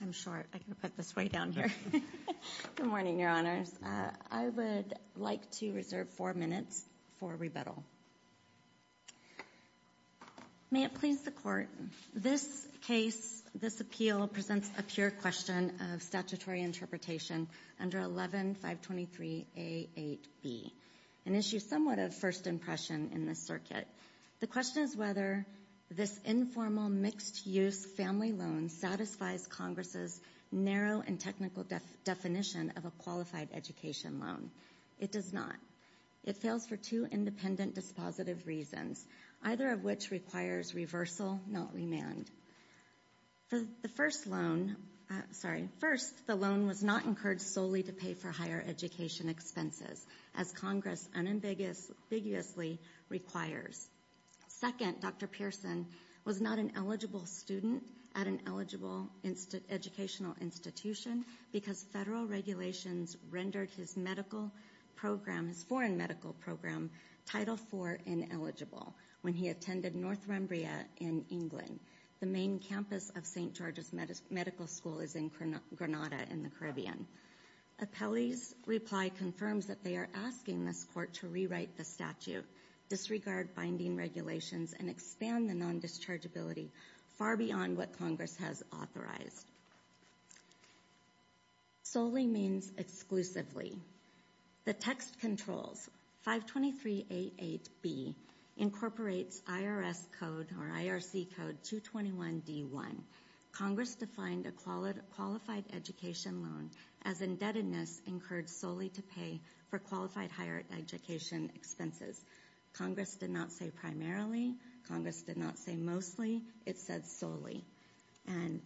I'm short. I can put this way down here. Good morning, Your Honors. I would like to reserve four minutes for rebuttal. May it please the court. This case, this appeal presents a pure question of statutory interpretation under 11-523-A8B. An issue somewhat of first impression in this circuit. The question is whether this informal mixed-use family loan satisfies Congress' narrow and technical definition of a qualified education loan. It does not. It fails for two independent dispositive reasons, either of which requires reversal, not remand. First, the loan was not incurred solely to pay for higher education expenses, as Congress unambiguously requires. Second, Dr. Pearson was not an eligible student at an eligible educational institution because federal regulations rendered his medical program, his foreign medical program, Title IV ineligible when he attended Northumbria in England. The main campus of St. George's Medical School is in Granada in the Caribbean. Appellee's reply confirms that they are asking this court to rewrite the statute, disregard binding regulations, and expand the non-dischargeability far beyond what Congress has authorized. Solely means exclusively. The text controls, 523-A8B incorporates IRS code or IRC code 221-D1. Congress defined a qualified education loan as indebtedness incurred solely to pay for qualified higher education expenses. Congress did not say primarily. Congress did not say mostly. It said solely. And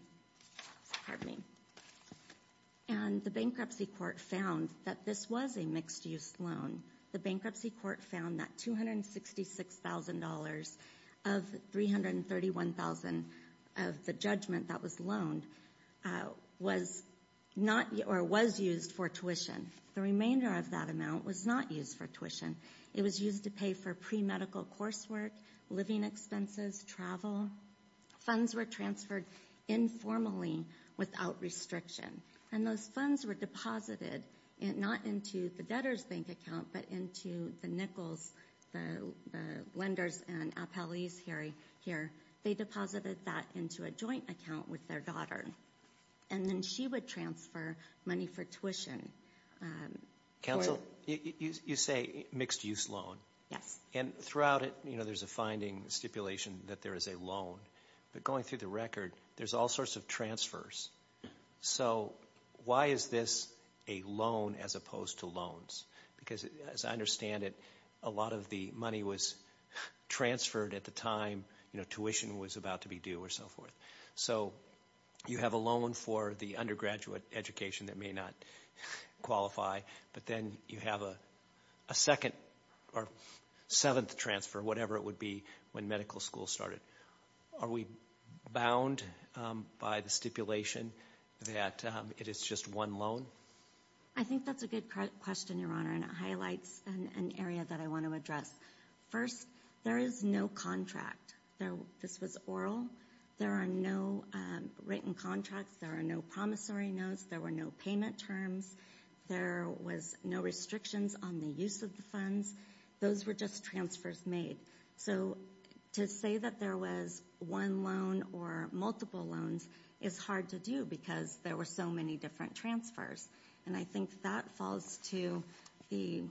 the bankruptcy court found that this was a mixed-use loan. The bankruptcy court found that $266,000 of $331,000 of the judgment that was loaned was used for tuition. The remainder of that amount was not used for tuition. It was used to pay for pre-medical coursework, living expenses, travel. Funds were transferred informally without restriction. And those funds were deposited not into the debtor's bank account but into the Nichols, the lenders and Appellee's here. They deposited that into a joint account with their daughter. And then she would transfer money for tuition. Counsel, you say mixed-use loan. Yes. And throughout it, you know, there's a finding stipulation that there is a loan. But going through the record, there's all sorts of transfers. So why is this a loan as opposed to loans? Because as I understand it, a lot of the money was transferred at the time, you know, tuition was about to be due or so forth. So you have a loan for the undergraduate education that may not qualify. But then you have a second or seventh transfer, whatever it would be, when medical school started. Are we bound by the stipulation that it is just one loan? I think that's a good question, Your Honor, and it highlights an area that I want to address. First, there is no contract. This was oral. There are no written contracts. There are no promissory notes. There were no payment terms. There was no restrictions on the use of the funds. Those were just transfers made. So to say that there was one loan or multiple loans is hard to do because there were so many different transfers. And I think that falls to the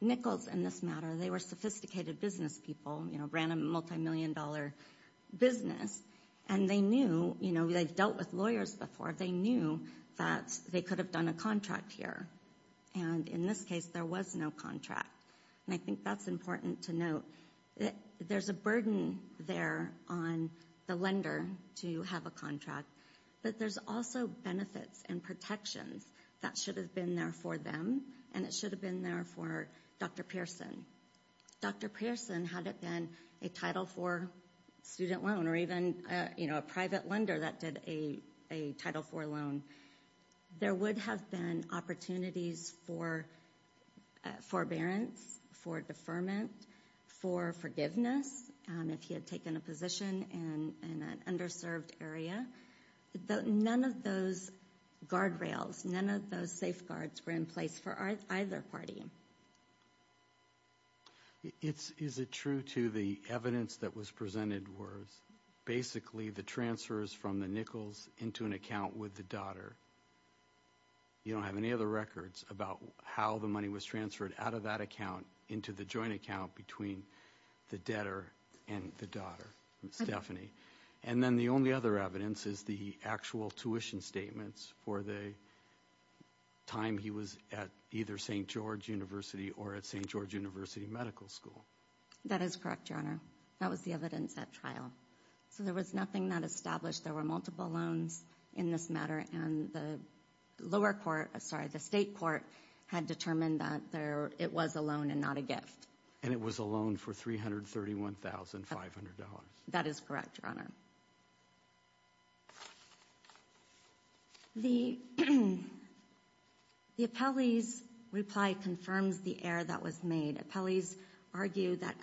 Nichols in this matter. They were sophisticated business people, you know, ran a multimillion-dollar business. And they knew, you know, they've dealt with lawyers before. They knew that they could have done a contract here. And in this case, there was no contract. And I think that's important to note. There's a burden there on the lender to have a contract. But there's also benefits and protections that should have been there for them, and it should have been there for Dr. Pearson. Dr. Pearson had it been a Title IV student loan or even, you know, a private lender that did a Title IV loan. There would have been opportunities for forbearance, for deferment, for forgiveness, if he had taken a position in an underserved area. None of those guardrails, none of those safeguards were in place for either party. Is it true to the evidence that was presented was basically the transfers from the Nichols into an account with the daughter? You don't have any other records about how the money was transferred out of that account into the joint account between the debtor and the daughter, Stephanie. And then the only other evidence is the actual tuition statements for the time he was at either St. George University or at St. George University Medical School. That is correct, Your Honor. That was the evidence at trial. So there was nothing that established there were multiple loans in this matter, and the lower court, sorry, the state court had determined that it was a loan and not a gift. And it was a loan for $331,500. That is correct, Your Honor. The appellee's reply confirms the error that was made. Appellees argue that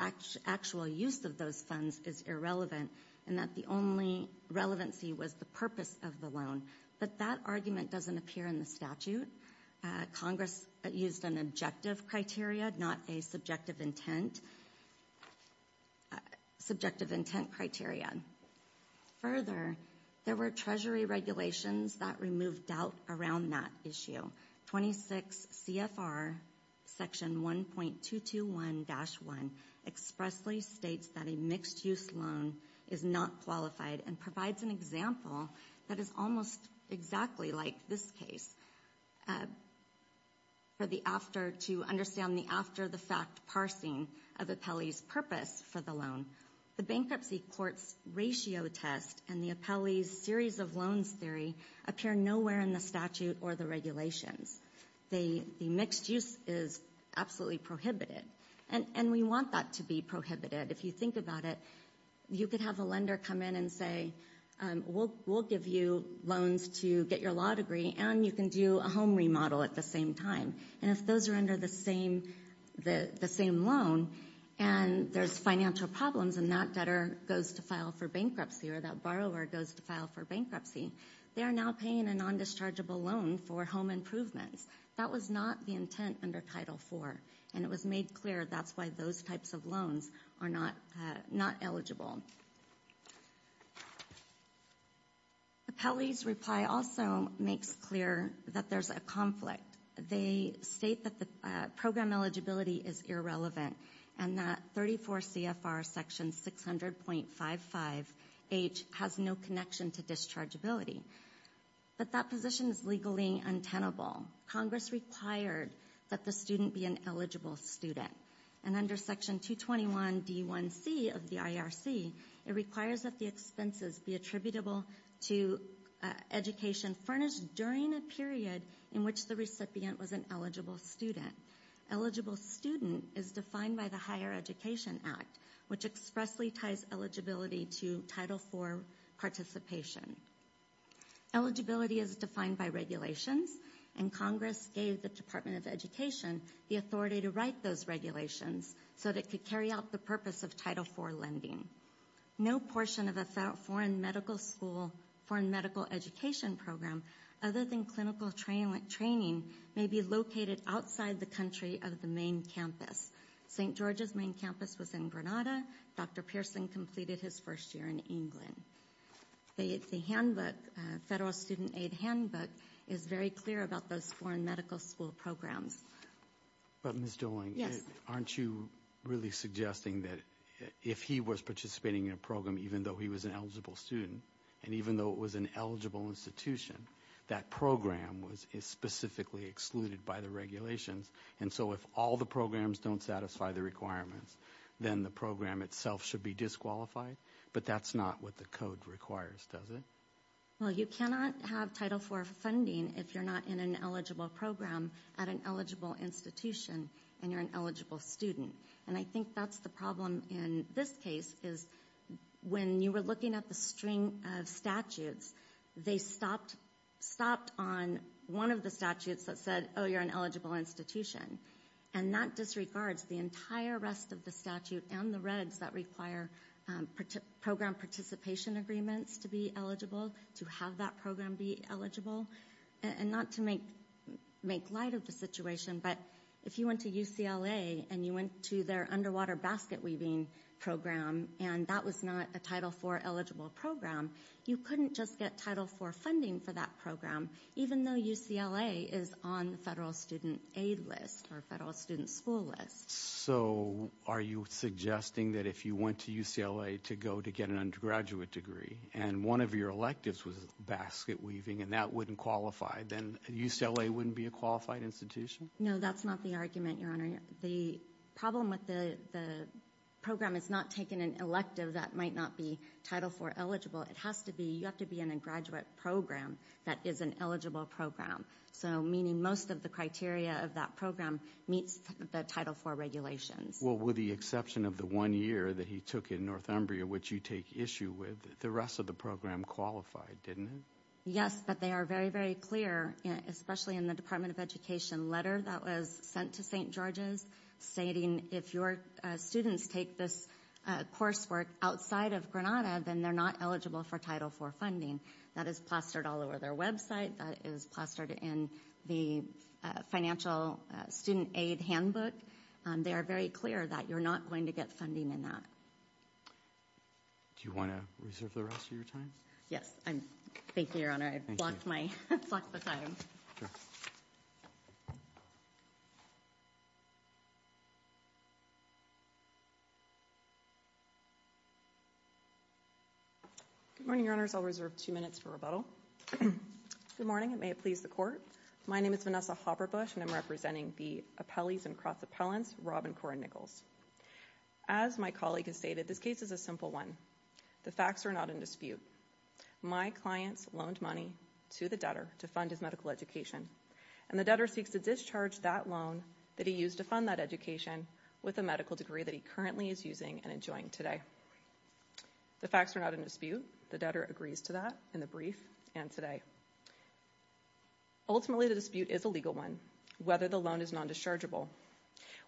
actual use of those funds is irrelevant and that the only relevancy was the purpose of the loan. But that argument doesn't appear in the statute. Congress used an objective criteria, not a subjective intent criteria. Further, there were Treasury regulations that removed doubt around that issue. 26 CFR Section 1.221-1 expressly states that a mixed-use loan is not qualified and provides an example that is almost exactly like this case to understand the after-the-fact parsing of appellee's purpose for the loan. The bankruptcy court's ratio test and the appellee's series of loans theory appear nowhere in the statute or the regulations. The mixed-use is absolutely prohibited, and we want that to be prohibited. If you think about it, you could have a lender come in and say, we'll give you loans to get your law degree, and you can do a home remodel at the same time. And if those are under the same loan and there's financial problems and that debtor goes to file for bankruptcy or that borrower goes to file for bankruptcy, they are now paying a non-dischargeable loan for home improvements. That was not the intent under Title IV, and it was made clear that's why those types of loans are not eligible. Appellee's reply also makes clear that there's a conflict. They state that the program eligibility is irrelevant and that 34 CFR section 600.55H has no connection to dischargeability, but that position is legally untenable. Congress required that the student be an eligible student, and under section 221D1C of the IRC, it requires that the expenses be attributable to education furnished during a period in which the recipient was an eligible student. Eligible student is defined by the Higher Education Act, which expressly ties eligibility to Title IV participation. Eligibility is defined by regulations, and Congress gave the Department of Education the authority to write those regulations so that it could carry out the purpose of Title IV lending. No portion of a foreign medical school, foreign medical education program, other than clinical training, may be located outside the country of the main campus. St. George's main campus was in Granada. Dr. Pearson completed his first year in England. The handbook, Federal Student Aid handbook, is very clear about those foreign medical school programs. But Ms. Dooling, aren't you really suggesting that if he was participating in a program even though he was an eligible student and even though it was an eligible institution, that program is specifically excluded by the regulations, and so if all the programs don't satisfy the requirements, then the program itself should be disqualified? But that's not what the code requires, does it? Well, you cannot have Title IV funding if you're not in an eligible program at an eligible institution and you're an eligible student. And I think that's the problem in this case, is when you were looking at the string of statutes, they stopped on one of the statutes that said, oh, you're an eligible institution. And that disregards the entire rest of the statute and the regs that require program participation agreements to be eligible, to have that program be eligible. And not to make light of the situation, but if you went to UCLA and you went to their underwater basket weaving program and that was not a Title IV eligible program, you couldn't just get Title IV funding for that program even though UCLA is on the federal student aid list or federal student school list. So are you suggesting that if you went to UCLA to go to get an undergraduate degree and one of your electives was basket weaving and that wouldn't qualify, then UCLA wouldn't be a qualified institution? No, that's not the argument, Your Honor. The problem with the program is not taking an elective that might not be Title IV eligible. It has to be, you have to be in a graduate program that is an eligible program. So meaning most of the criteria of that program meets the Title IV regulations. Well, with the exception of the one year that he took in Northumbria, which you take issue with, the rest of the program qualified, didn't it? Yes, but they are very, very clear, especially in the Department of Education letter that was sent to St. George's, stating if your students take this coursework outside of Granada, then they're not eligible for Title IV funding. That is plastered all over their website. That is plastered in the financial student aid handbook. They are very clear that you're not going to get funding in that. Do you want to reserve the rest of your time? Yes, thank you, Your Honor. Sorry, I've blocked the time. Good morning, Your Honors. I'll reserve two minutes for rebuttal. Good morning, and may it please the Court. My name is Vanessa Hopperbush, and I'm representing the appellees and cross-appellants, Rob and Cora Nichols. As my colleague has stated, this case is a simple one. The facts are not in dispute. My clients loaned money to the debtor to fund his medical education, and the debtor seeks to discharge that loan that he used to fund that education with a medical degree that he currently is using and enjoying today. The facts are not in dispute. The debtor agrees to that in the brief and today. Ultimately, the dispute is a legal one, whether the loan is non-dischargeable.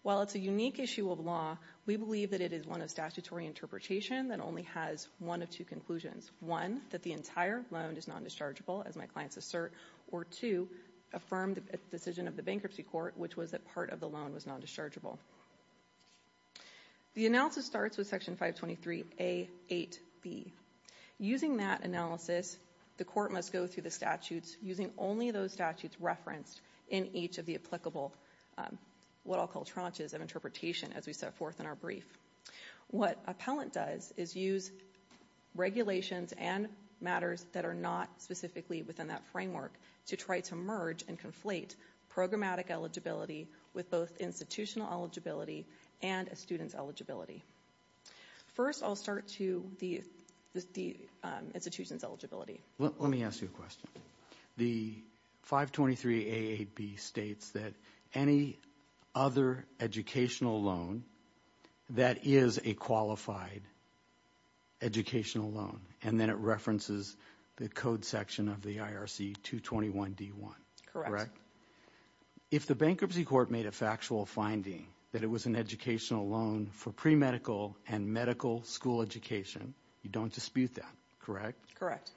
While it's a unique issue of law, we believe that it is one of statutory interpretation that only has one of two conclusions. One, that the entire loan is non-dischargeable, as my clients assert, or two, affirm the decision of the Bankruptcy Court, which was that part of the loan was non-dischargeable. The analysis starts with Section 523A.8.B. Using that analysis, the Court must go through the statutes using only those statutes referenced in each of the applicable what I'll call tranches of interpretation as we set forth in our brief. What appellant does is use regulations and matters that are not specifically within that framework to try to merge and conflate programmatic eligibility with both institutional eligibility and a student's eligibility. First, I'll start to the institution's eligibility. Let me ask you a question. The 523A.8.B. states that any other educational loan that is a qualified educational loan, and then it references the code section of the IRC 221D.1. Correct. If the Bankruptcy Court made a factual finding that it was an educational loan for premedical and medical school education, you don't dispute that, correct? Correct.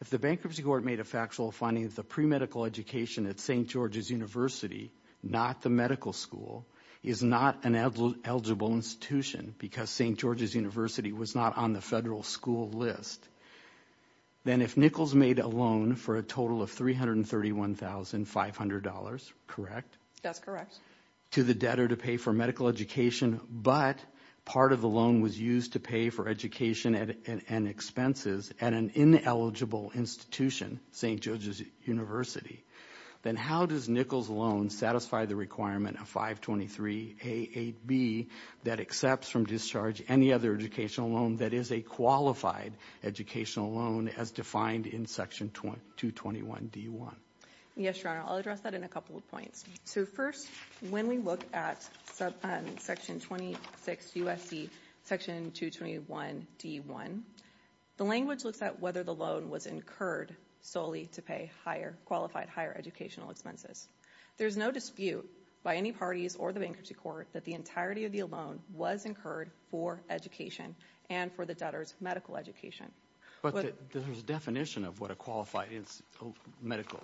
If the Bankruptcy Court made a factual finding that the premedical education at St. George's University, not the medical school, is not an eligible institution because St. George's University was not on the federal school list, then if Nichols made a loan for a total of $331,500, correct? That's correct. to pay for medical education, but part of the loan was used to pay for education and expenses at an ineligible institution, St. George's University, then how does Nichols' loan satisfy the requirement of 523A.8.B. that accepts from discharge any other educational loan that is a qualified educational loan as defined in Section 221D.1? Yes, Your Honor, I'll address that in a couple of points. So first, when we look at Section 26 U.S.C. Section 221D.1, the language looks at whether the loan was incurred solely to pay higher, qualified higher educational expenses. There's no dispute by any parties or the Bankruptcy Court that the entirety of the loan was incurred for education and for the debtor's medical education. But there's a definition of what a qualified medical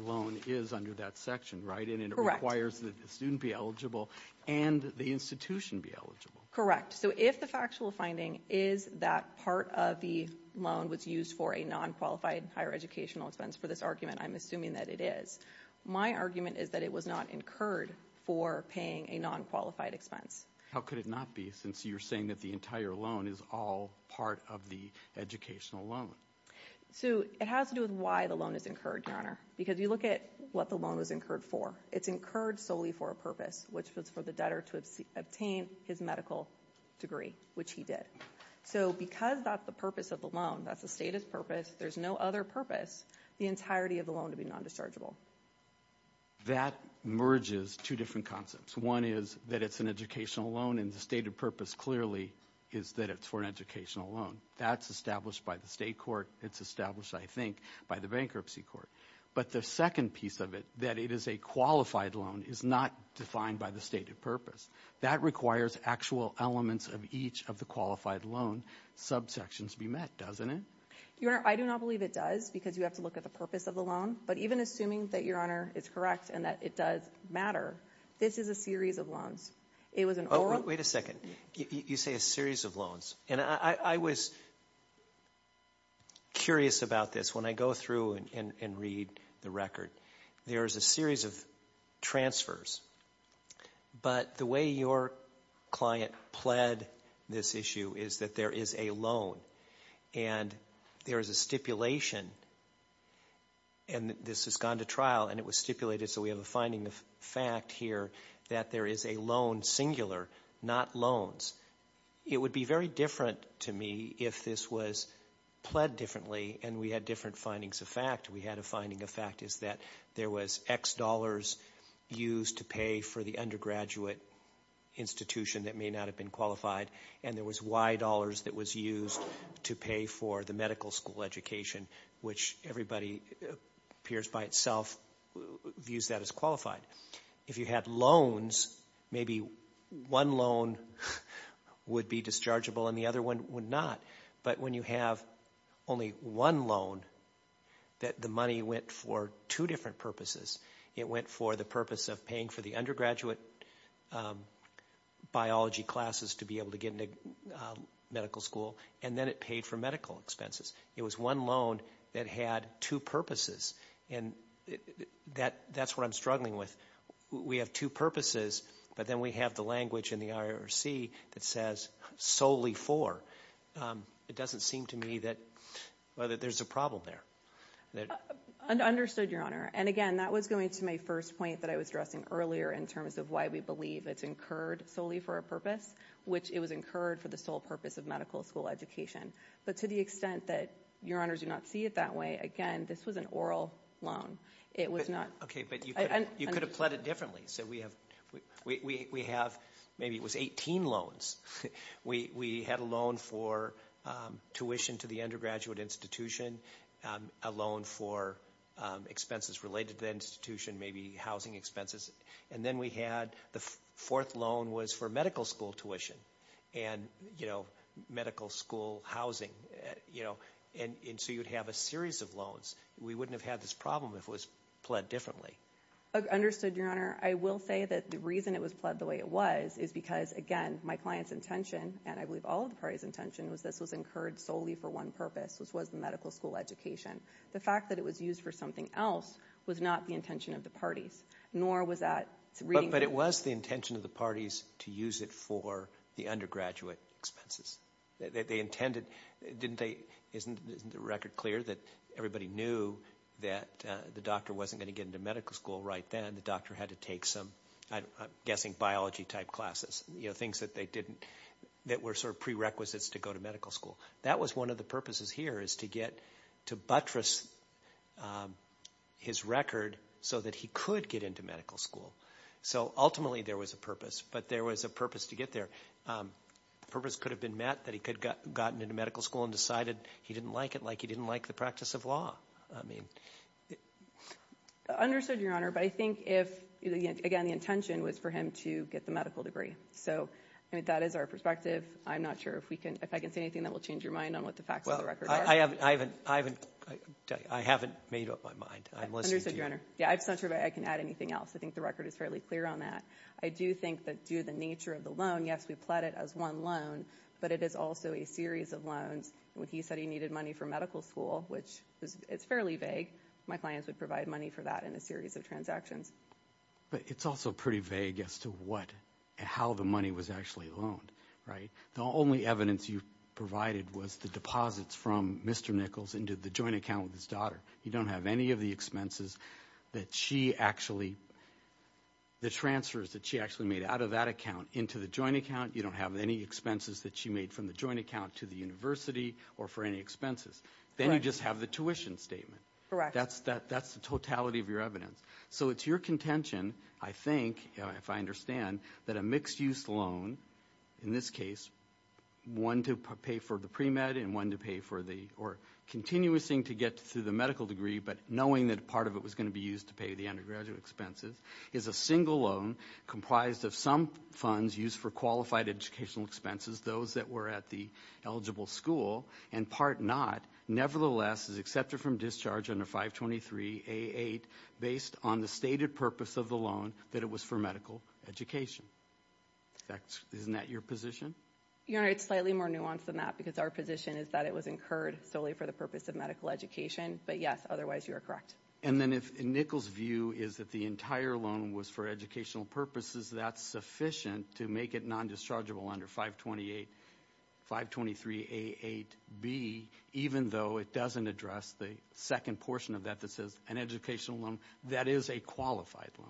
loan is under that section, right? Correct. And it requires that the student be eligible and the institution be eligible. Correct. So if the factual finding is that part of the loan was used for a non-qualified higher educational expense, for this argument, I'm assuming that it is. My argument is that it was not incurred for paying a non-qualified expense. How could it not be, since you're saying that the entire loan is all part of the educational loan? So it has to do with why the loan is incurred, Your Honor, because you look at what the loan was incurred for. It's incurred solely for a purpose, which was for the debtor to obtain his medical degree, which he did. So because that's the purpose of the loan, that's the stated purpose, there's no other purpose, the entirety of the loan to be non-dischargeable. That merges two different concepts. One is that it's an educational loan, and the stated purpose clearly is that it's for an educational loan. That's established by the state court. It's established, I think, by the bankruptcy court. But the second piece of it, that it is a qualified loan, is not defined by the stated purpose. That requires actual elements of each of the qualified loan subsections be met, doesn't it? Your Honor, I do not believe it does, because you have to look at the purpose of the loan. But even assuming that, Your Honor, it's correct and that it does matter, this is a series of loans. Oh, wait a second. You say a series of loans. And I was curious about this. When I go through and read the record, there is a series of transfers. But the way your client pled this issue is that there is a loan. And there is a stipulation, and this has gone to trial, and it was stipulated, so we have a finding of fact here that there is a loan singular, not loans. It would be very different to me if this was pled differently and we had different findings of fact. We had a finding of fact is that there was X dollars used to pay for the undergraduate institution that may not have been qualified, and there was Y dollars that was used to pay for the medical school education, which everybody appears by itself views that as qualified. If you had loans, maybe one loan would be dischargeable and the other one would not. But when you have only one loan, the money went for two different purposes. It went for the purpose of paying for the undergraduate biology classes to be able to get into medical school, and then it paid for medical expenses. It was one loan that had two purposes, and that's what I'm struggling with. We have two purposes, but then we have the language in the IRC that says solely for. It doesn't seem to me that there's a problem there. Understood, Your Honor. And again, that was going to my first point that I was addressing earlier in terms of why we believe it's incurred solely for a purpose, which it was incurred for the sole purpose of medical school education. But to the extent that Your Honors do not see it that way, again, this was an oral loan. It was not. Okay, but you could have pled it differently. So we have maybe it was 18 loans. We had a loan for tuition to the undergraduate institution, a loan for expenses related to the institution, maybe housing expenses. And then we had the fourth loan was for medical school tuition and medical school housing. And so you'd have a series of loans. We wouldn't have had this problem if it was pled differently. Understood, Your Honor. I will say that the reason it was pled the way it was is because, again, my client's intention, and I believe all of the parties' intention was this was incurred solely for one purpose, which was the medical school education. The fact that it was used for something else was not the intention of the parties. Nor was that reading the- But it was the intention of the parties to use it for the undergraduate expenses. They intended, didn't they, isn't the record clear that everybody knew that the doctor wasn't going to get into medical school right then? And the doctor had to take some, I'm guessing, biology-type classes, you know, things that they didn't-that were sort of prerequisites to go to medical school. That was one of the purposes here is to get to buttress his record so that he could get into medical school. So ultimately there was a purpose, but there was a purpose to get there. The purpose could have been met that he could have gotten into medical school and decided he didn't like it like he didn't like the practice of law. I mean- Understood, Your Honor, but I think if, again, the intention was for him to get the medical degree. So that is our perspective. I'm not sure if I can say anything that will change your mind on what the facts of the record are. I haven't made up my mind. I'm listening to you. Yeah, I'm just not sure if I can add anything else. I think the record is fairly clear on that. I do think that due to the nature of the loan, yes, we pled it as one loan, but it is also a series of loans. When he said he needed money for medical school, which it's fairly vague, my clients would provide money for that in a series of transactions. But it's also pretty vague as to what- how the money was actually loaned, right? The only evidence you provided was the deposits from Mr. Nichols into the joint account with his daughter. You don't have any of the expenses that she actually- the transfers that she actually made out of that account into the joint account. You don't have any expenses that she made from the joint account to the university or for any expenses. Then you just have the tuition statement. That's the totality of your evidence. So it's your contention, I think, if I understand, that a mixed-use loan, in this case, one to pay for the pre-med and one to pay for the- or continuously to get to the medical degree, but knowing that part of it was going to be used to pay the undergraduate expenses, is a single loan comprised of some funds used for qualified educational expenses, those that were at the eligible school, and part not nevertheless is accepted from discharge under 523A8 based on the stated purpose of the loan, that it was for medical education. Isn't that your position? Your Honor, it's slightly more nuanced than that because our position is that it was incurred solely for the purpose of medical education. But yes, otherwise you are correct. And then if Nichols' view is that the entire loan was for educational purposes, that's sufficient to make it non-dischargeable under 523A8B, even though it doesn't address the second portion of that that says an educational loan, that is a qualified loan.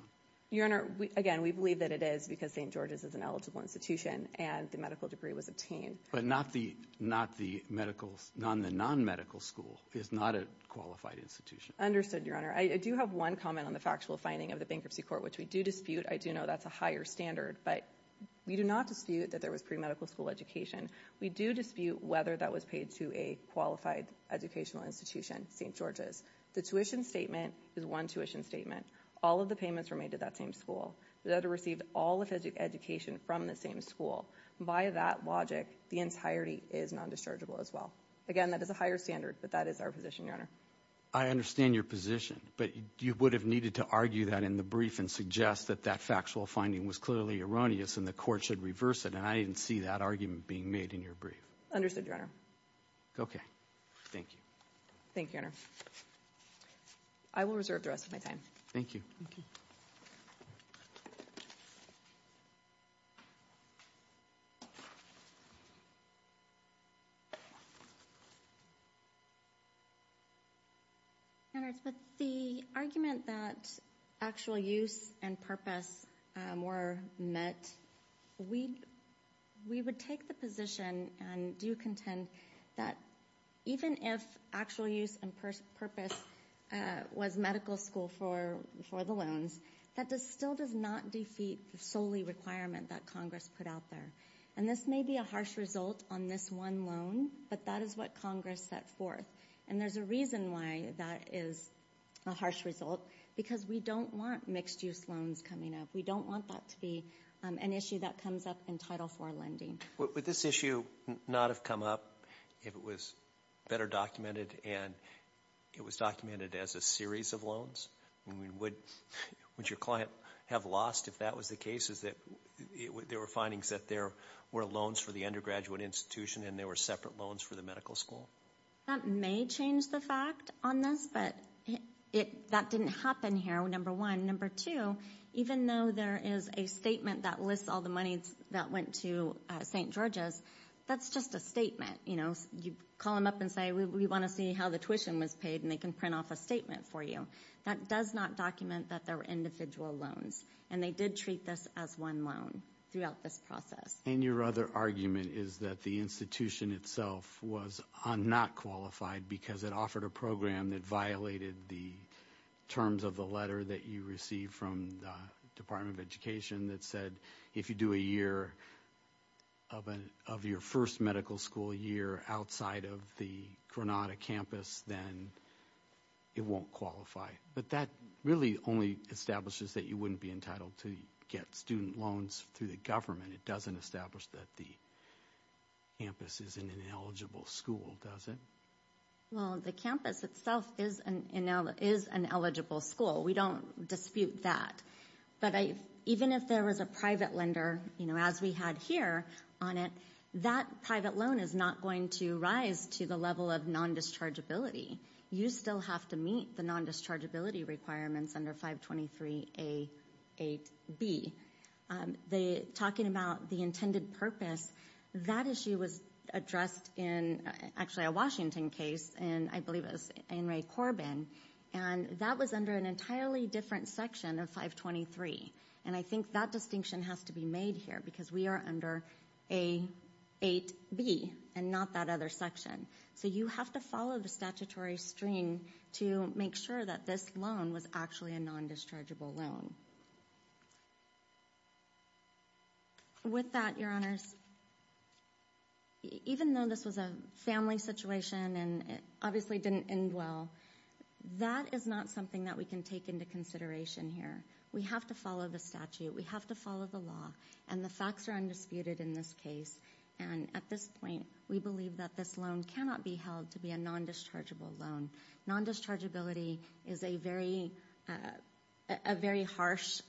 Your Honor, again, we believe that it is because St. George's is an eligible institution and the medical degree was obtained. But not the medical- the non-medical school is not a qualified institution. Understood, Your Honor. I do have one comment on the factual finding of the bankruptcy court, which we do dispute. I do know that's a higher standard, but we do not dispute that there was pre-medical school education. We do dispute whether that was paid to a qualified educational institution, St. George's. The tuition statement is one tuition statement. All of the payments were made to that same school. The other received all of education from the same school. By that logic, the entirety is non-dischargeable as well. Again, that is a higher standard, but that is our position, Your Honor. I understand your position, but you would have needed to argue that in the brief and suggest that that factual finding was clearly erroneous and the court should reverse it, and I didn't see that argument being made in your brief. Understood, Your Honor. Okay. Thank you. Thank you, Your Honor. I will reserve the rest of my time. Thank you. But the argument that actual use and purpose were met, we would take the position and do contend that even if actual use and purpose was medical school for the loans, that still does not defeat the solely requirement that Congress put out there. And this may be a harsh result on this one loan, but that is what Congress set forth. And there's a reason why that is a harsh result, because we don't want mixed-use loans coming up. We don't want that to be an issue that comes up in Title IV lending. Would this issue not have come up if it was better documented and it was documented as a series of loans? Would your client have lost if that was the case, if there were findings that there were loans for the undergraduate institution and there were separate loans for the medical school? That may change the fact on this, but that didn't happen here, number one. Number two, even though there is a statement that lists all the money that went to St. George's, that's just a statement. You call them up and say, we want to see how the tuition was paid, and they can print off a statement for you. That does not document that there were individual loans, and they did treat this as one loan throughout this process. And your other argument is that the institution itself was not qualified because it offered a program that violated the terms of the letter that you received from the Department of Education that said if you do a year of your first medical school year outside of the Granada campus, then it won't qualify. But that really only establishes that you wouldn't be entitled to get student loans through the government. It doesn't establish that the campus is an ineligible school, does it? Well, the campus itself is an eligible school. We don't dispute that. But even if there was a private lender, you know, as we had here on it, that private loan is not going to rise to the level of non-dischargeability. You still have to meet the non-dischargeability requirements under 523A8B. Talking about the intended purpose, that issue was addressed in actually a Washington case, and I believe it was in Ray Corbin, and that was under an entirely different section of 523. And I think that distinction has to be made here because we are under A8B and not that other section. So you have to follow the statutory string to make sure that this loan was actually a non-dischargeable loan. With that, Your Honors, even though this was a family situation and it obviously didn't end well, that is not something that we can take into consideration here. We have to follow the statute. We have to follow the law. And the facts are undisputed in this case. And at this point, we believe that this loan cannot be held to be a non-dischargeable loan. Non-dischargeability is a very harsh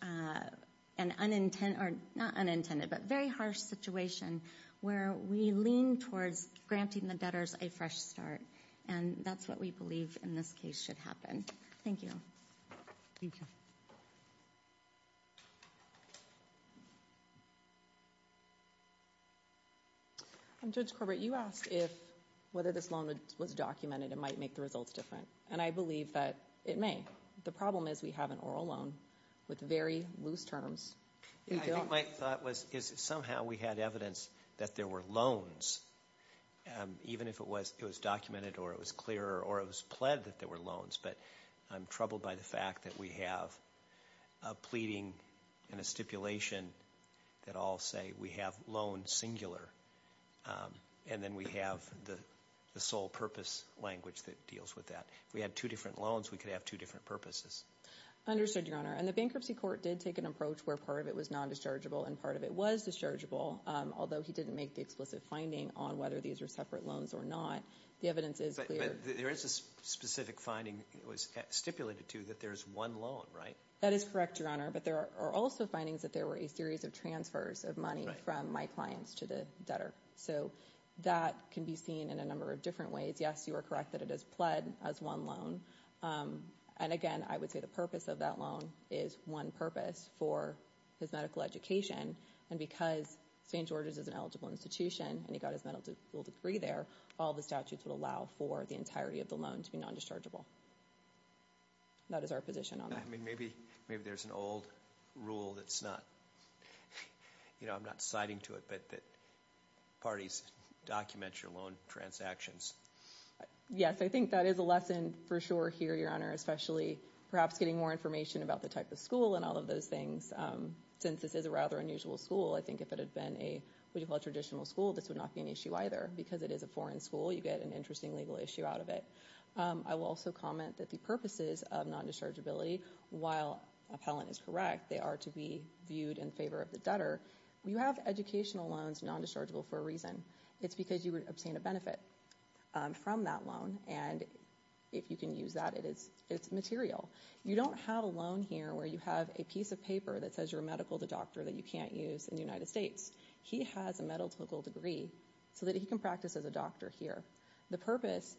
and unintended, or not unintended, but very harsh situation where we lean towards granting the debtors a fresh start. And that's what we believe in this case should happen. Thank you. Thank you. Judge Corbett, you asked whether this loan was documented and might make the results different. And I believe that it may. The problem is we have an oral loan with very loose terms. I think my thought was somehow we had evidence that there were loans, even if it was documented or it was clear or it was pled that there were loans. But I'm troubled by the fact that we have a pleading and a stipulation that all say we have loans singular. And then we have the sole purpose language that deals with that. If we had two different loans, we could have two different purposes. Understood, Your Honor. And the bankruptcy court did take an approach where part of it was non-dischargeable and part of it was dischargeable, although he didn't make the explicit finding on whether these were separate loans or not. The evidence is clear. But there is a specific finding that was stipulated to that there is one loan, right? That is correct, Your Honor. But there are also findings that there were a series of transfers of money from my clients to the debtor. So that can be seen in a number of different ways. Yes, you are correct that it is pled as one loan. And, again, I would say the purpose of that loan is one purpose for his medical education. And because St. George's is an eligible institution and he got his medical degree there, all the statutes would allow for the entirety of the loan to be non-dischargeable. That is our position on that. I mean, maybe there's an old rule that's not, you know, I'm not citing to it, but that parties document your loan transactions. Yes, I think that is a lesson for sure here, Your Honor, especially perhaps getting more information about the type of school and all of those things. Since this is a rather unusual school, I think if it had been a, what you call a traditional school, this would not be an issue either. Because it is a foreign school, you get an interesting legal issue out of it. I will also comment that the purposes of non-dischargeability, while appellant is correct, they are to be viewed in favor of the debtor. You have educational loans non-dischargeable for a reason. It's because you would obtain a benefit from that loan. And if you can use that, it's material. You don't have a loan here where you have a piece of paper that says you're a medical doctor that you can't use in the United States. He has a medical degree so that he can practice as a doctor here. The purpose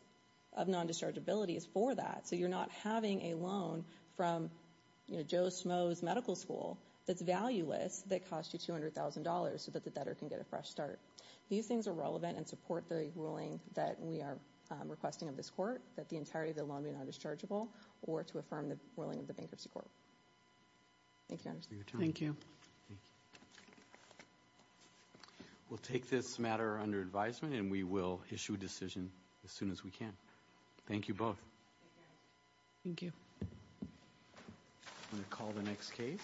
of non-dischargeability is for that. So you're not having a loan from Joe Smoe's Medical School that's valueless, that costs you $200,000 so that the debtor can get a fresh start. These things are relevant and support the ruling that we are requesting of this Court, that the entirety of the loan be non-dischargeable, or to affirm the ruling of the Bankruptcy Court. Thank you, Your Honor. Thank you. We'll take this matter under advisement, and we will issue a decision as soon as we can. Thank you both. Thank you. I'm going to call the next case.